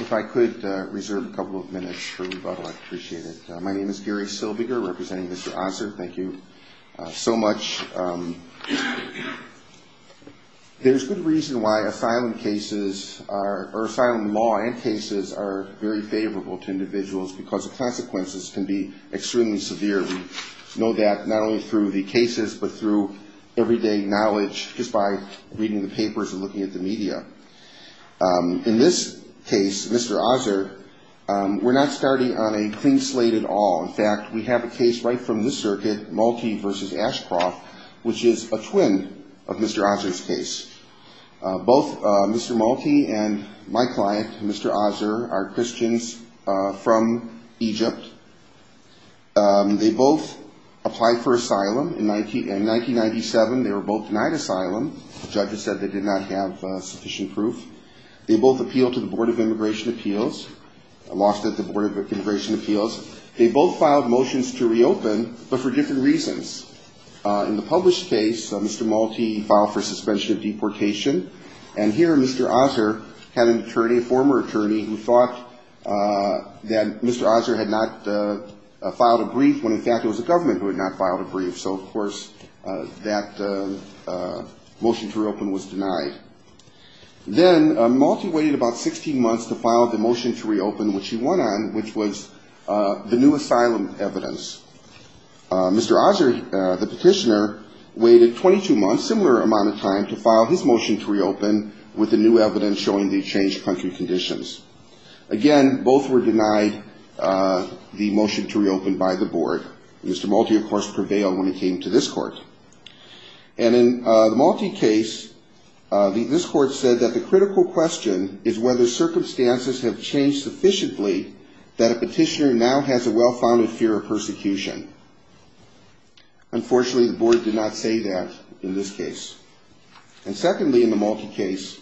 If I could reserve a couple of minutes for rebuttal, I'd appreciate it. My name is Gary Silviger, representing Mr. Osser. Thank you so much. There's good reason why asylum cases are – or asylum law and cases are very favorable to individuals because the consequences can be extremely severe. We know that not only through the cases but through everyday knowledge just by reading the papers and looking at the media. In this case, Mr. Osser, we're not starting on a clean slate at all. In fact, we have a case right from this circuit, Malti v. Ashcroft, which is a twin of Mr. Osser's case. Both Mr. Malti and my client, Mr. Osser, are Christians from Egypt. They both applied for asylum. In 1997, they were both denied asylum. Judges said they did not have sufficient proof. They both appealed to the Board of Immigration Appeals, lost at the Board of Immigration Appeals. They both filed motions to reopen but for different reasons. In the published case, Mr. Malti filed for suspension of deportation. And here Mr. Osser had an attorney, a former attorney, who thought that Mr. Osser had not filed a brief when, in fact, it was the government who had not filed a brief. So, of course, that motion to reopen was denied. Then Malti waited about 16 months to file the motion to reopen, which he won on, which was the new asylum evidence. Mr. Osser, the petitioner, waited 22 months, similar amount of time, to file his motion to reopen with the new evidence showing the changed country conditions. Again, both were denied the motion to reopen by the board. Mr. Malti, of course, prevailed when it came to this court. And in the Malti case, this court said that the critical question is whether circumstances have changed sufficiently that a petitioner now has a well-founded fear of persecution. Unfortunately, the board did not say that in this case. And secondly, in the Malti case,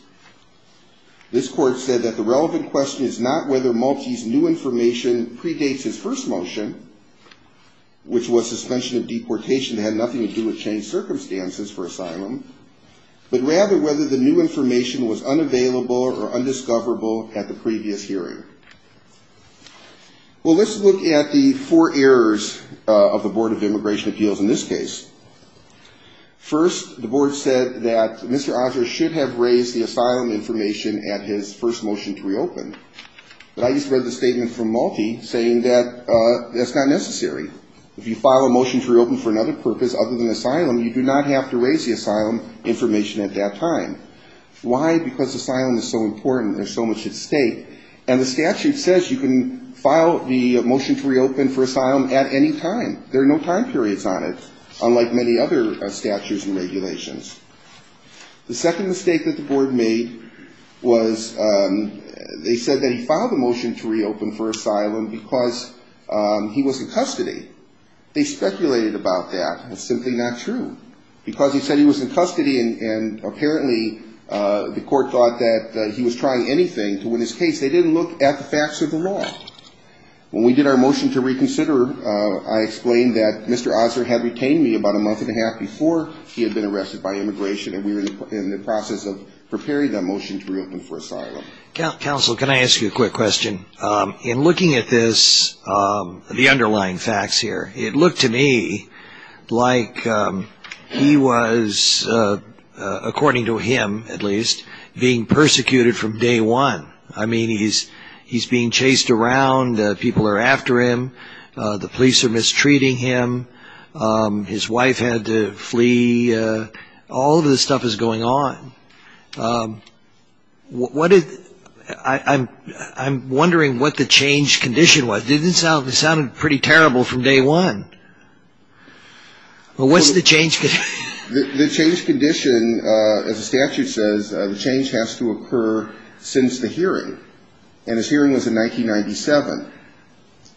this court said that the relevant question is not whether Malti's new information predates his first motion, which was suspension of deportation. It had nothing to do with changed circumstances for asylum, but rather whether the new information was unavailable or undiscoverable at the previous hearing. Well, let's look at the four errors of the Board of Immigration Appeals in this case. First, the board said that Mr. Osser should have raised the asylum information at his first motion to reopen, but I just read the statement from Malti saying that that's not necessary. If you file a motion to reopen for another purpose other than asylum, you do not have to raise the asylum information at that time. Why? Because asylum is so important. There's so much at stake. And the statute says you can file the motion to reopen for asylum at any time. There are no time periods on it, unlike many other statutes and regulations. The second mistake that the board made was they said that he filed a motion to reopen for asylum because he was in custody. They speculated about that. It's simply not true. Because he said he was in custody and apparently the court thought that he was trying anything to win his case, they didn't look at the facts of the law. When we did our motion to reconsider, I explained that Mr. Osser had retained me about a month and a half before he had been arrested by Immigration. And we were in the process of preparing that motion to reopen for asylum. Counsel, can I ask you a quick question? In looking at this, the underlying facts here, it looked to me like he was, according to him at least, being persecuted from day one. I mean, he's being chased around. People are after him. The police are mistreating him. His wife had to flee. All of this stuff is going on. I'm wondering what the change condition was. It sounded pretty terrible from day one. Well, what's the change condition? The change condition, as the statute says, the change has to occur since the hearing. And his hearing was in 1997.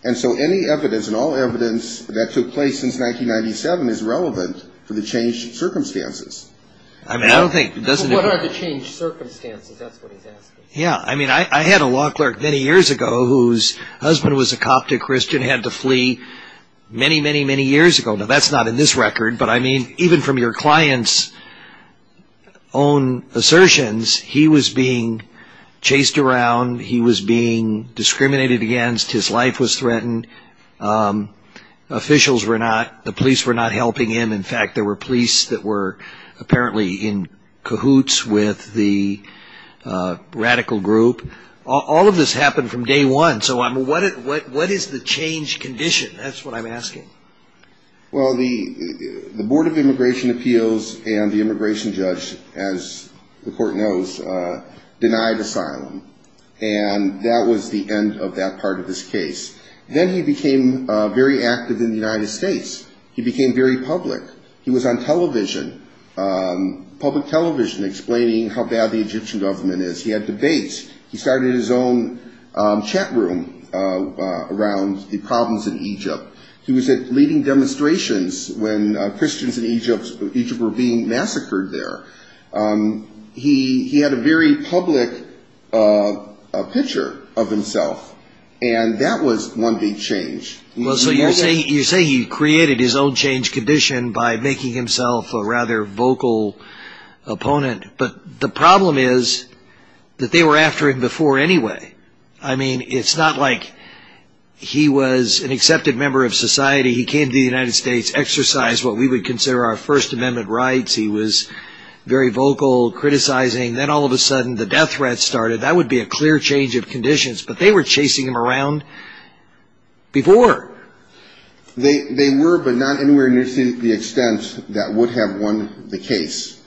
And so any evidence and all evidence that took place since 1997 is relevant for the change circumstances. I mean, I don't think it doesn't occur. Yeah, I mean, I had a law clerk many years ago whose husband was a Coptic Christian, had to flee many, many, many years ago. Now, that's not in this record, but I mean, even from your client's own assertions, he was being chased around and being persecuted. He was being chased around. He was being discriminated against. His life was threatened. Officials were not, the police were not helping him. In fact, there were police that were apparently in cahoots with the radical group. All of this happened from day one. So what is the change condition? That's what I'm asking. Well, the Board of Immigration Appeals and the immigration judge, as the court knows, denied asylum. And that was the end of that part of this case. Then he became very active in the United States. He became very public. He was on television, public television, explaining how bad the Egyptian government is. He had debates. He started his own chat room around the problems in Egypt. He was at leading demonstrations when Christians in Egypt were being massacred there. He had a very public picture of himself. And that was one big change. So you're saying he created his own change condition by making himself a rather vocal opponent. But the problem is that they were after him before anyway. I mean, it's not like he was an accepted member of society. He came to the United States, exercised what we would consider our First Amendment rights. He was very vocal, criticizing. Then all of a sudden the death threat started. That would be a clear change of conditions. But they were chasing him around before. They were, but not anywhere near to the extent that would have won the case.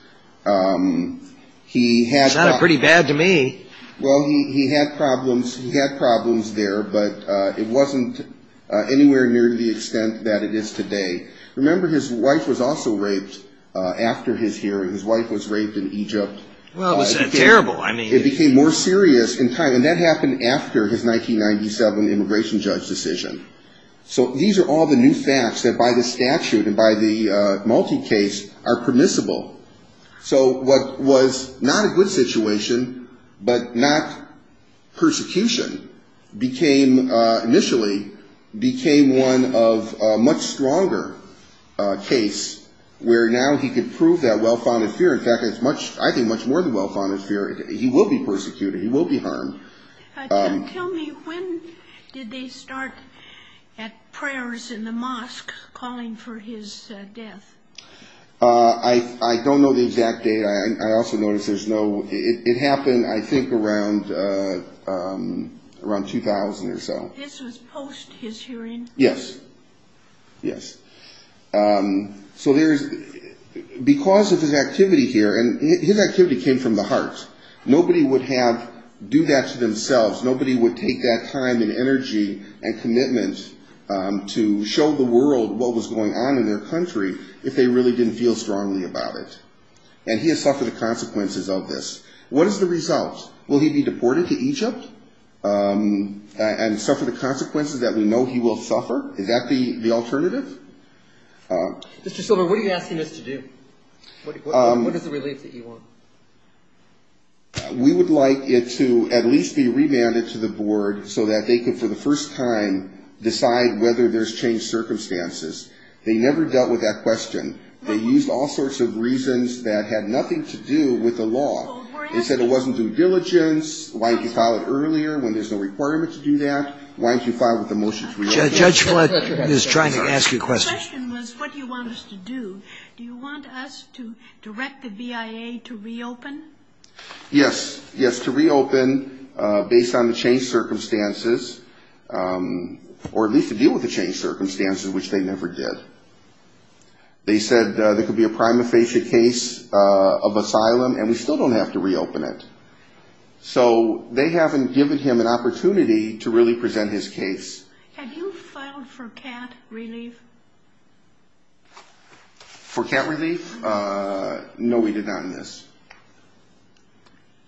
That's not pretty bad to me. Well, he had problems there, but it wasn't anywhere near to the extent that it is today. Remember, his wife was also raped after his hearing. His wife was raped in Egypt. Well, it was terrible. So these are all the new facts that by the statute and by the multi-case are permissible. So what was not a good situation, but not persecution, became, initially, became one of a much stronger case where now he could prove that well-founded fear. In fact, I think it's much more than well-founded fear. He will be persecuted. He will be harmed. Tell me, when did they start at prayers in the mosque calling for his death? I don't know the exact date. I also notice there's no... It happened, I think, around 2000 or so. This was post his hearing? Yes. Yes. So there's... Because of his activity here, and his activity came from the heart, nobody would have... do that to themselves. Nobody would take that time and energy and commitment to show the world what was going on in their country if they really didn't feel strongly about it. And he has suffered the consequences of this. What is the result? Will he be deported to Egypt and suffer the consequences that we know he will suffer? Is that the alternative? Mr. Silver, what are you asking us to do? What is the relief that you want? We would like it to at least be remanded to the board so that they could, for the first time, decide whether there's changed circumstances. They never dealt with that question. They used all sorts of reasons that had nothing to do with the law. They said it wasn't due diligence, why didn't you file it earlier when there's no requirement to do that? Why didn't you file it with the motion to reopen? The question was what do you want us to do? Do you want us to direct the VIA to reopen? Yes. Yes, to reopen based on the changed circumstances, or at least to deal with the changed circumstances, which they never did. They said there could be a prima facie case of asylum, and we still don't have to reopen it. So they haven't given him an opportunity to really present his case. Have you filed for CAT relief? For CAT relief? No, we did not in this.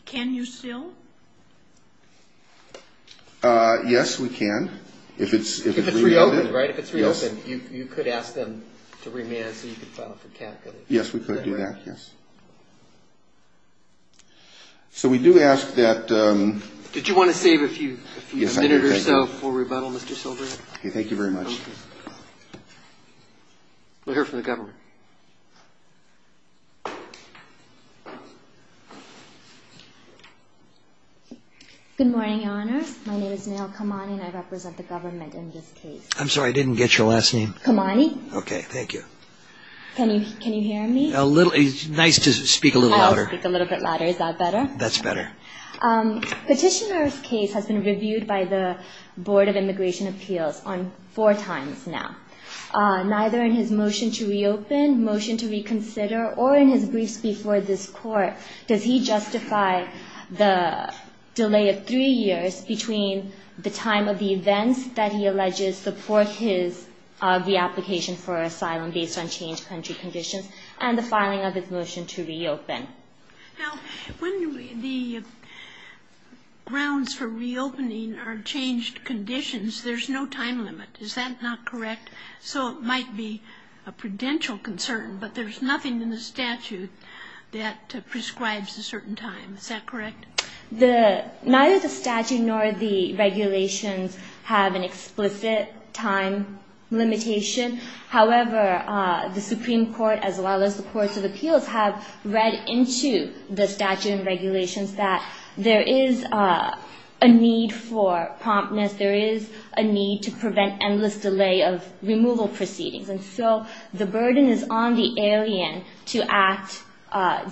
Can you still? Yes, we can. If it's reopened, you could ask them to remand so you could file for CAT relief. Yes, we could do that. Yes. So we do ask that. Did you want to save a few minutes or so for rebuttal, Mr. Silver? Thank you very much. We'll hear from the government. Good morning, Your Honor. My name is Mi'il Kamani. And I represent the government in this case. I'm sorry, I didn't get your last name. Kamani? Okay, thank you. Can you hear me? A little. It's nice to speak a little louder. I'll speak a little bit louder. Is that better? That's better. Petitioner's case has been reviewed by the Board of Immigration Appeals four times now. Neither in his motion to reopen, motion to reconsider, or in his briefs before this Court, does he justify the delay of three years between the time of the events that he alleges support his reapplication for asylum based on changed country conditions and the filing of his motion to reopen? Now, when the grounds for reopening are changed conditions, there's no time limit. Is that not correct? So it might be a prudential concern, but there's nothing in the statute that prescribes a certain time. Is that correct? Neither the statute nor the regulations have an explicit time limitation. However, the Supreme Court, as well as the courts of appeals, have read into the statute and regulations that there is a need for promptness. There is a need to prevent endless delay of removal proceedings. And so the burden is on the alien to act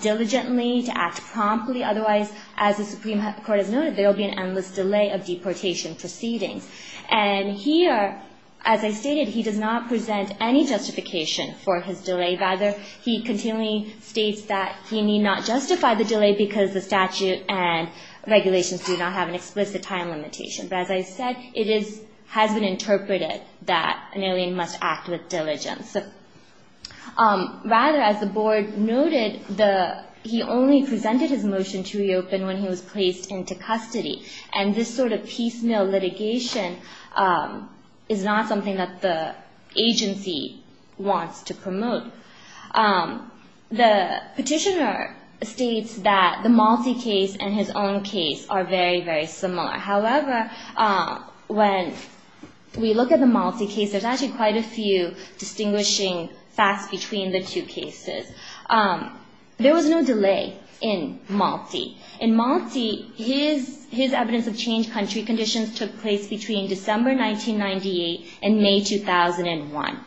diligently, to act promptly. Otherwise, as the Supreme Court has noted, there will be an endless delay of deportation proceedings. And here, as I stated, he does not present any justification for his delay. Rather, he continually states that he need not justify the delay because the statute and regulations do not have an explicit time limitation. But as I said, it has been interpreted that an alien must act with diligence. Rather, as the board noted, he only presented his motion to reopen when he was placed into custody. And this sort of piecemeal litigation is not something that the agency wants to promote. The petitioner states that the Malte case and his own case are very, very similar. However, when we look at the Malte case, there's actually quite a few distinguishing facts between the two cases. There was no delay in Malte. In Malte, his evidence of changed country conditions took place between December 1998 and May 2001.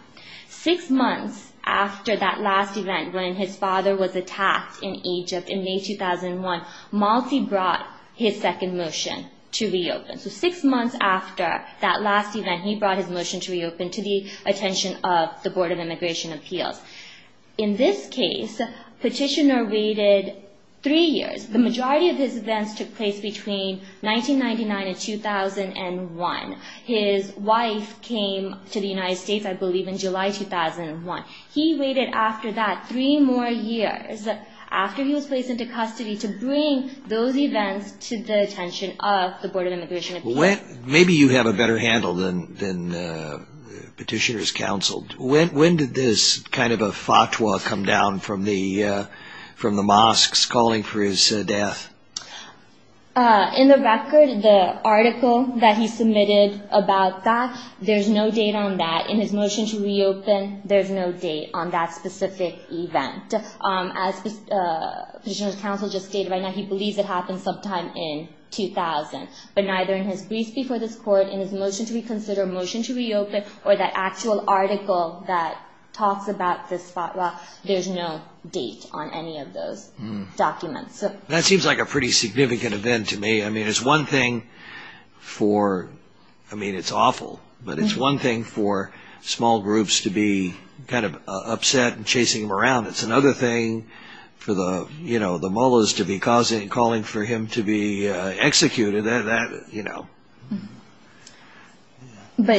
Six months after that last event, when his father was attacked in Egypt in May 2001, Malte brought his second motion to reopen. So six months after that last event, he brought his motion to reopen to the attention of the Board of Immigration Appeals. In this case, petitioner waited three years. The majority of his events took place between 1999 and 2001. His wife came to the United States, I believe, in July 2001. He waited after that three more years after he was placed into custody to bring those events to the attention of the Board of Immigration Appeals. Maybe you have a better handle than petitioners counseled. When did this kind of a fatwa come down from the mosques calling for his death? In the record, the article that he submitted about that, there's no date on that. In his motion to reopen, there's no date on that specific event. As petitioners counsel just stated right now, he believes it happened sometime in 2000. But neither in his brief before this court, in his motion to reconsider, motion to reopen, or that actual article that talks about this fatwa, there's no date on any of those documents. That seems like a pretty significant event to me. I mean, it's one thing for – I mean, it's awful. But it's one thing for small groups to be kind of upset and chasing him around. It's another thing for the mullahs to be calling for him to be executed. It's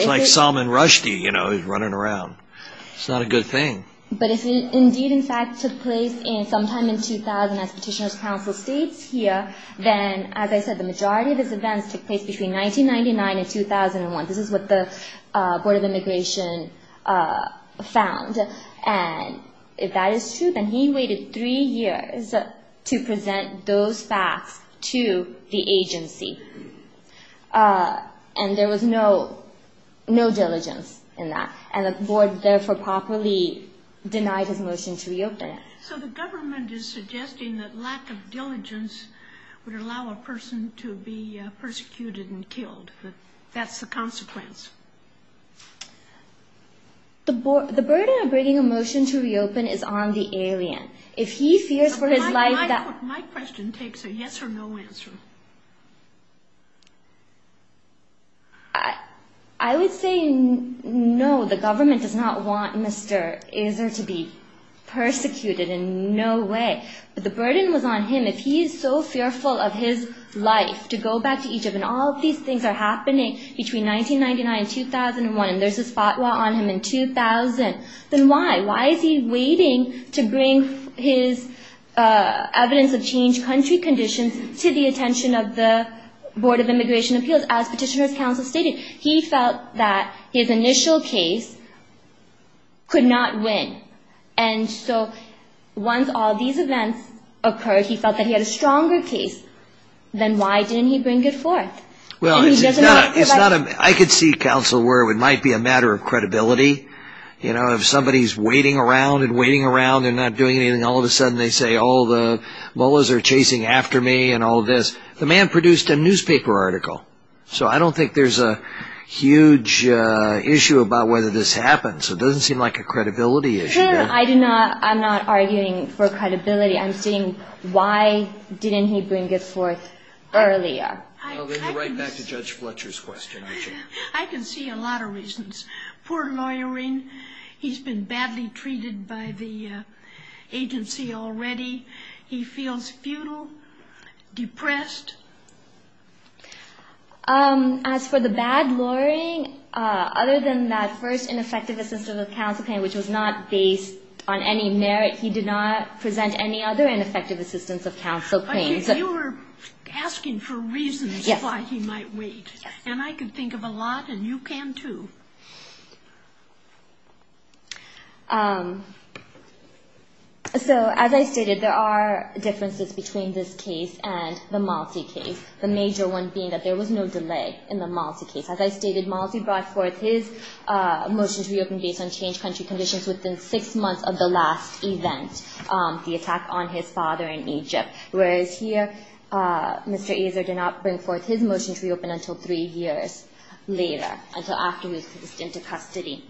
like Salman Rushdie running around. It's not a good thing. But if it indeed, in fact, took place sometime in 2000, as petitioners counsel states here, then, as I said, the majority of his events took place between 1999 and 2001. This is what the Board of Immigration found. And if that is true, then he waited three years to present those facts to the agency. And there was no diligence in that. And the Board therefore properly denied his motion to reopen. So the government is suggesting that lack of diligence would allow a person to be persecuted and killed. That's the consequence. The burden of bringing a motion to reopen is on the alien. If he fears for his life that – My question takes a yes or no answer. I would say no. The government does not want Mr. Azar to be persecuted in no way. But the burden was on him. If he is so fearful of his life to go back to Egypt, and all of these things are happening between 1999 and 2001, and there's this fatwa on him in 2000, then why? Why is he waiting to bring his evidence of changed country conditions to the attention of the Board of Immigration Appeals, as petitioners counsel stated? He felt that his initial case could not win. And so once all these events occurred, he felt that he had a stronger case. Then why didn't he bring it forth? I could see, counsel, where it might be a matter of credibility. If somebody's waiting around and waiting around and not doing anything, all of a sudden they say all the Mullahs are chasing after me and all this. The man produced a newspaper article. So I don't think there's a huge issue about whether this happens. It doesn't seem like a credibility issue. I'm not arguing for credibility. I'm saying why didn't he bring it forth earlier? We'll go right back to Judge Fletcher's question. I can see a lot of reasons. Poor lawyering. He's been badly treated by the agency already. He feels futile, depressed. As for the bad lawyering, other than that first ineffective assistance of counsel claim, which was not based on any merit. He did not present any other ineffective assistance of counsel claims. But you were asking for reasons why he might wait. Yes. And I could think of a lot, and you can too. So as I stated, there are differences between this case and the Malti case. The major one being that there was no delay in the Malti case. As I stated, Malti brought forth his motion to reopen based on changed country conditions within six months of the last event, the attack on his father in Egypt. Whereas here, Mr. Azar did not bring forth his motion to reopen until three years later, until after he was released into custody.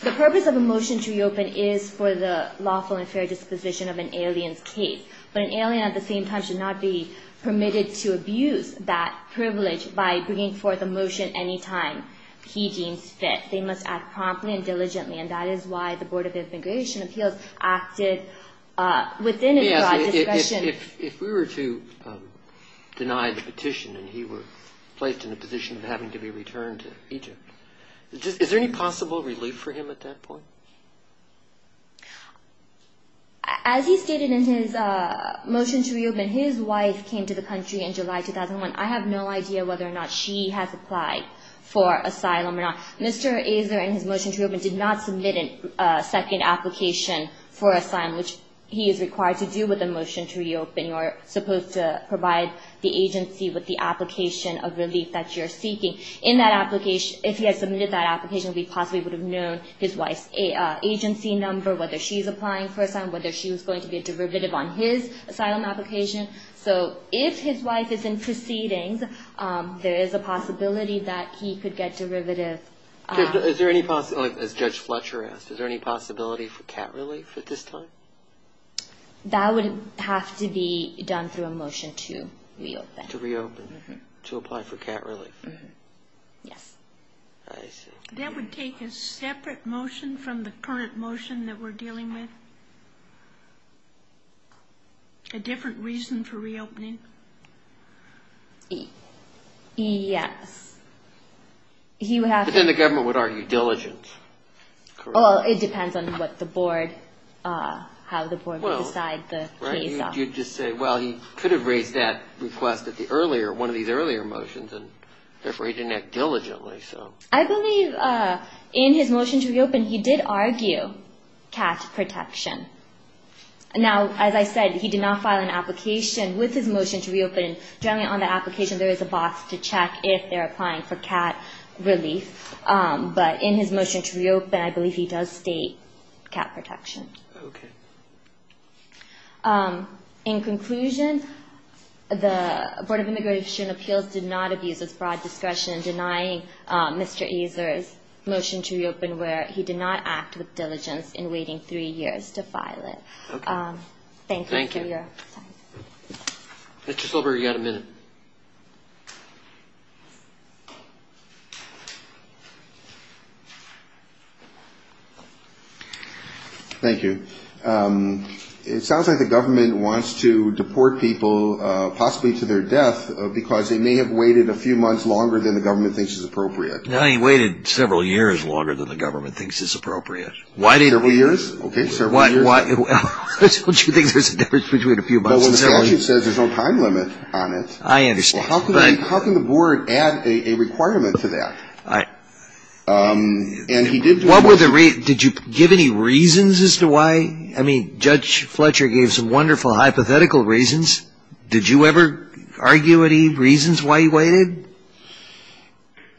The purpose of a motion to reopen is for the lawful and fair disposition of an alien's case. But an alien at the same time should not be permitted to abuse that privilege by bringing forth a motion any time he deems fit. They must act promptly and diligently. And that is why the Board of Immigration Appeals acted within his discretion. If we were to deny the petition and he were placed in a position of having to be returned to Egypt, is there any possible relief for him at that point? As he stated in his motion to reopen, his wife came to the country in July 2001. I have no idea whether or not she has applied for asylum or not. Mr. Azar, in his motion to reopen, did not submit a second application for asylum, which he is required to do with a motion to reopen. You're supposed to provide the agency with the application of relief that you're seeking. If he had submitted that application, we possibly would have known his wife's agency number, whether she's applying for asylum, whether she was going to be a derivative on his asylum application. So if his wife is in proceedings, there is a possibility that he could get derivative. Is there any possibility, as Judge Fletcher asked, is there any possibility for cat relief at this time? That would have to be done through a motion to reopen. To reopen, to apply for cat relief. Yes. I see. That would take a separate motion from the current motion that we're dealing with? A different reason for reopening? Yes. But then the government would argue diligence. Well, it depends on what the board, how the board would decide the case. You'd just say, well, he could have raised that request at the earlier, one of these earlier motions, and therefore he didn't act diligently. I believe in his motion to reopen, he did argue cat protection. Now, as I said, he did not file an application with his motion to reopen. Generally on the application, there is a box to check if they're applying for cat relief. But in his motion to reopen, I believe he does state cat protection. Okay. In conclusion, the Board of Immigration Appeals did not abuse its broad discretion in denying Mr. Azar's motion to reopen, where he did not act with diligence in waiting three years to file it. Okay. Thank you for your time. Thank you. Mr. Silber, you've got a minute. Thank you. It sounds like the government wants to deport people possibly to their death because they may have waited a few months longer than the government thinks is appropriate. No, he waited several years longer than the government thinks is appropriate. Several years? Okay, several years. Don't you think there's a difference between a few months and several years? Well, when the statute says there's no time limit on it. I understand. How can the Board add a requirement to that? All right. What were the reasons? Did you give any reasons as to why? I mean, Judge Fletcher gave some wonderful hypothetical reasons. Did you ever argue any reasons why he waited?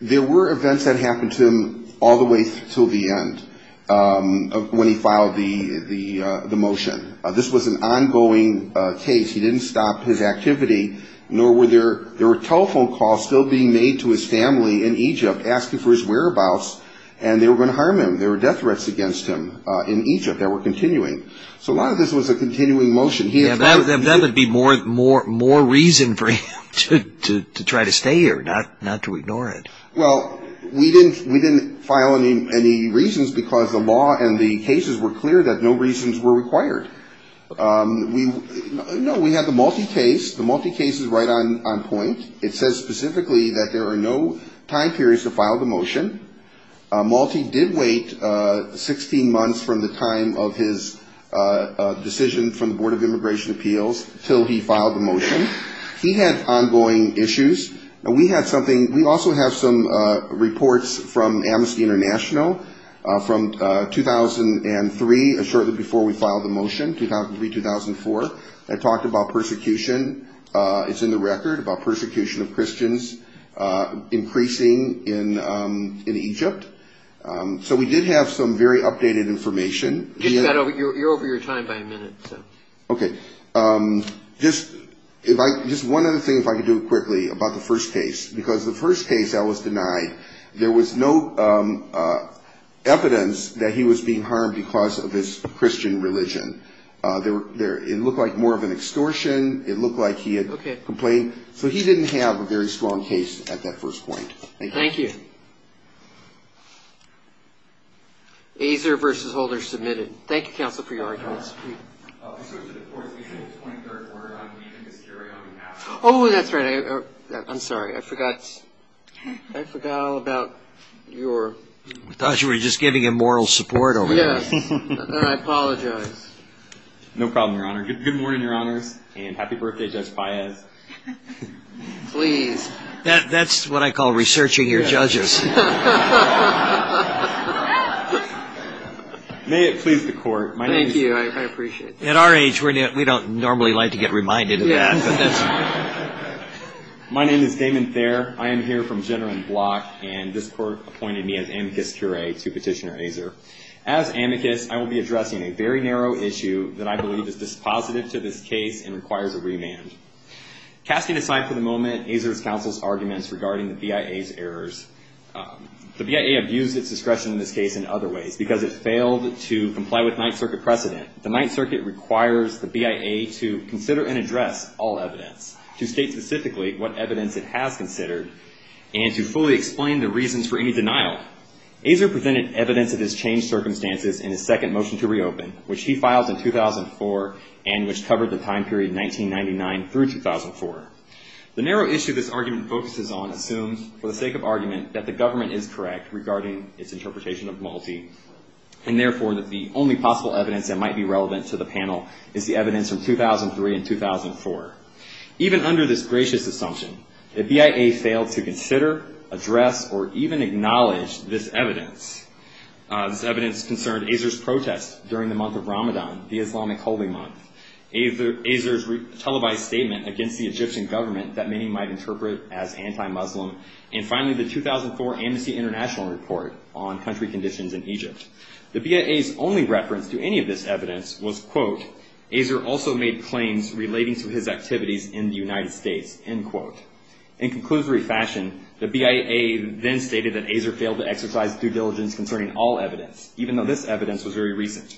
There were events that happened to him all the way until the end when he filed the motion. This was an ongoing case. He didn't stop his activity, nor were there telephone calls still being made to his family in Egypt asking for his whereabouts, and they were going to harm him. There were death threats against him in Egypt that were continuing. So a lot of this was a continuing motion. That would be more reason for him to try to stay here, not to ignore it. Well, we didn't file any reasons because the law and the cases were clear that no reasons were required. No, we had the Malti case. The Malti case is right on point. It says specifically that there are no time periods to file the motion. Malti did wait 16 months from the time of his decision from the Board of Immigration Appeals until he filed the motion. He had ongoing issues. And we had something we also have some reports from Amnesty International from 2003, and shortly before we filed the motion, 2003-2004, that talked about persecution. It's in the record about persecution of Christians increasing in Egypt. So we did have some very updated information. You're over your time by a minute. Okay. Just one other thing, if I could do it quickly, about the first case. Because the first case I was denied, there was no evidence that he was being harmed because of his Christian religion. It looked like more of an extortion. It looked like he had complained. So he didn't have a very strong case at that first point. Thank you. Thank you. Azar v. Holder, submitted. Thank you, counsel, for your arguments. Oh, that's right. I'm sorry. I forgot. I forgot all about your. I thought you were just giving him moral support over there. Yes. And I apologize. No problem, Your Honor. Good morning, Your Honors. And happy birthday, Judge Paez. Please. That's what I call researching your judges. May it please the Court. Thank you. I appreciate it. At our age, we don't normally like to get reminded of that. My name is Damon Thayer. I am here from Jenner and Block, and this Court appointed me as amicus curiae to Petitioner Azar. As amicus, I will be addressing a very narrow issue that I believe is dispositive to this case and requires a remand. Casting aside for the moment Azar's counsel's arguments regarding the BIA's errors, the BIA abused its discretion in this case in other ways because it failed to comply with Ninth Circuit precedent. The Ninth Circuit requires the BIA to consider and address all evidence, to state specifically what evidence it has considered, and to fully explain the reasons for any denial. Azar presented evidence of his changed circumstances in his second motion to reopen, which he filed in 2004 and which covered the time period 1999 through 2004. The narrow issue this argument focuses on assumes, for the sake of argument, that the government is correct regarding its interpretation of Malti, and therefore that the only possible evidence that might be relevant to the panel is the evidence from 2003 and 2004. Even under this gracious assumption, the BIA failed to consider, address, or even acknowledge this evidence. This evidence concerned Azar's protest during the month of Ramadan, the Islamic holy month. Azar's televised statement against the Egyptian government that many might interpret as anti-Muslim, and finally the 2004 Amnesty International report on country conditions in Egypt. The BIA's only reference to any of this evidence was, quote, Azar also made claims relating to his activities in the United States, end quote. In conclusory fashion, the BIA then stated that Azar failed to exercise due diligence concerning all evidence, even though this evidence was very recent.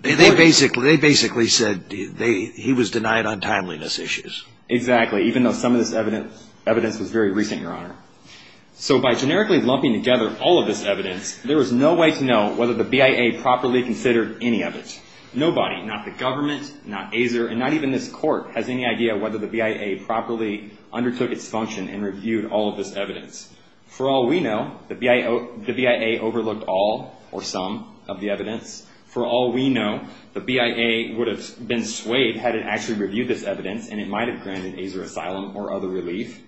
They basically said he was denied on timeliness issues. Exactly, even though some of this evidence was very recent, Your Honor. So by generically lumping together all of this evidence, there was no way to know whether the BIA properly considered any of it. Nobody, not the government, not Azar, and not even this court, has any idea whether the BIA properly undertook its function and reviewed all of this evidence. For all we know, the BIA overlooked all, or some, of the evidence. For all we know, the BIA would have been swayed had it actually reviewed this evidence, and it might have granted Azar asylum or other relief.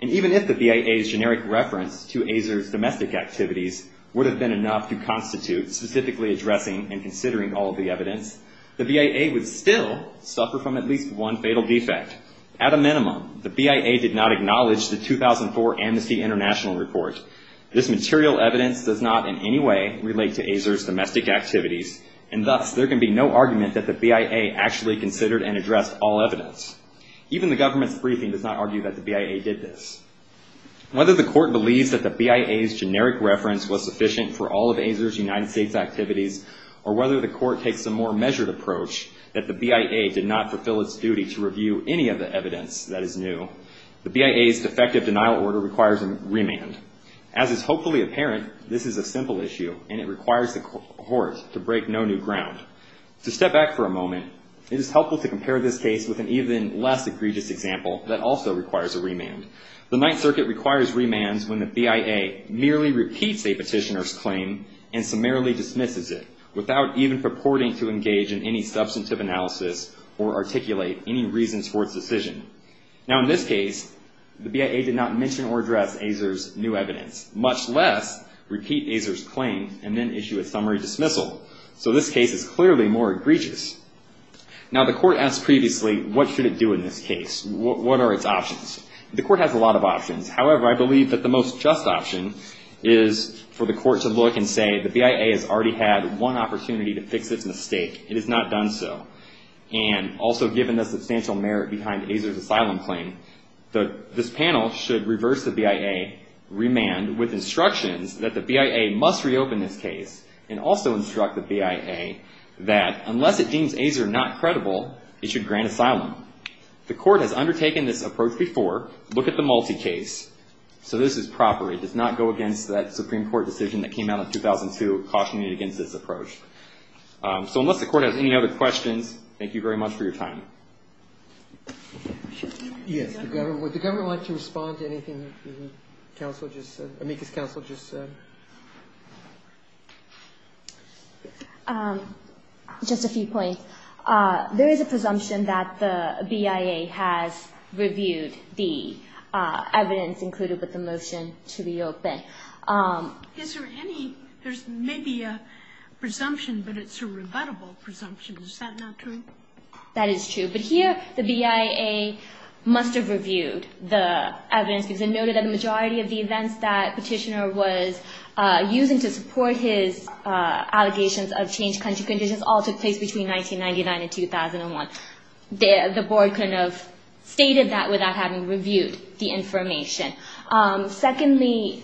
And even if the BIA's generic reference to Azar's domestic activities would have been enough to constitute specifically addressing and considering all of the evidence, the BIA would still suffer from at least one fatal defect. At a minimum, the BIA did not acknowledge the 2004 Amnesty International report. This material evidence does not in any way relate to Azar's domestic activities, and thus there can be no argument that the BIA actually considered and addressed all evidence. Even the government's briefing does not argue that the BIA did this. Whether the court believes that the BIA's generic reference was sufficient for all of Azar's United States activities, or whether the court takes a more measured approach that the BIA did not fulfill its duty to review any of the evidence that is new, the BIA's defective denial order requires a remand. As is hopefully apparent, this is a simple issue, and it requires the court to break no new ground. To step back for a moment, it is helpful to compare this case with an even less egregious example that also requires a remand. The Ninth Circuit requires remands when the BIA merely repeats a petitioner's claim and summarily dismisses it without even purporting to engage in any substantive analysis or articulate any reasons for its decision. Now, in this case, the BIA did not mention or address Azar's new evidence, much less repeat Azar's claim and then issue a summary dismissal. So this case is clearly more egregious. Now, the court asked previously, what should it do in this case? What are its options? The court has a lot of options. However, I believe that the most just option is for the court to look and say, the BIA has already had one opportunity to fix its mistake. It has not done so. And also given the substantial merit behind Azar's asylum claim, this panel should reverse the BIA remand with instructions that the BIA must reopen this case and also instruct the BIA that unless it deems Azar not credible, it should grant asylum. The court has undertaken this approach before. Look at the multi-case. So this is proper. It does not go against that Supreme Court decision that came out in 2002 cautioning it against this approach. So unless the court has any other questions, thank you very much for your time. Yes, the government. Would the government like to respond to anything that the counsel just said, amicus counsel just said? Just a few points. There is a presumption that the BIA has reviewed the evidence included with the motion to reopen. Is there any, there's maybe a presumption, but it's a rebuttable presumption. Is that not true? That is true. But here the BIA must have reviewed the evidence because it noted that the majority of the events that Petitioner was using to support his allegations of changed country conditions all took place between 1999 and 2001. The board couldn't have stated that without having reviewed the information. Secondly,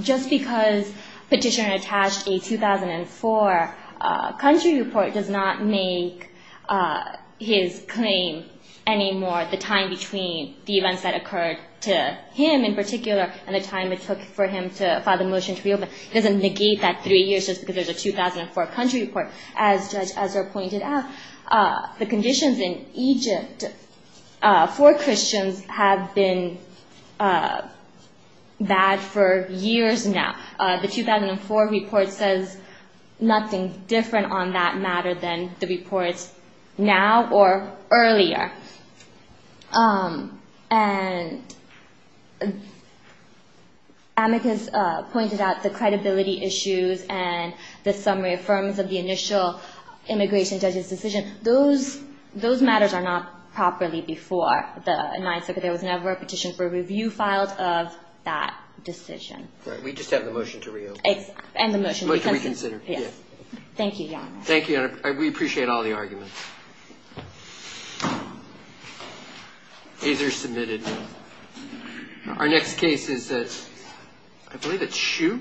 just because Petitioner attached a 2004 country report does not make his claim any more, the time between the events that occurred to him in particular and the time it took for him to file the motion to reopen. It doesn't negate that three years just because there's a 2004 country report. As Judge Ezra pointed out, the conditions in Egypt for Christians have been bad for years now. The 2004 report says nothing different on that matter than the reports now or earlier. And Amicus pointed out the credibility issues and the summary affirms of the initial immigration judge's decision. Those matters are not properly before the Ninth Circuit. There was never a petition for review filed of that decision. We just have the motion to reopen. And the motion to reconsider. Thank you, Your Honor. Thank you. We appreciate all the arguments. Ayes are submitted. Our next case is that, I believe it's Hsu.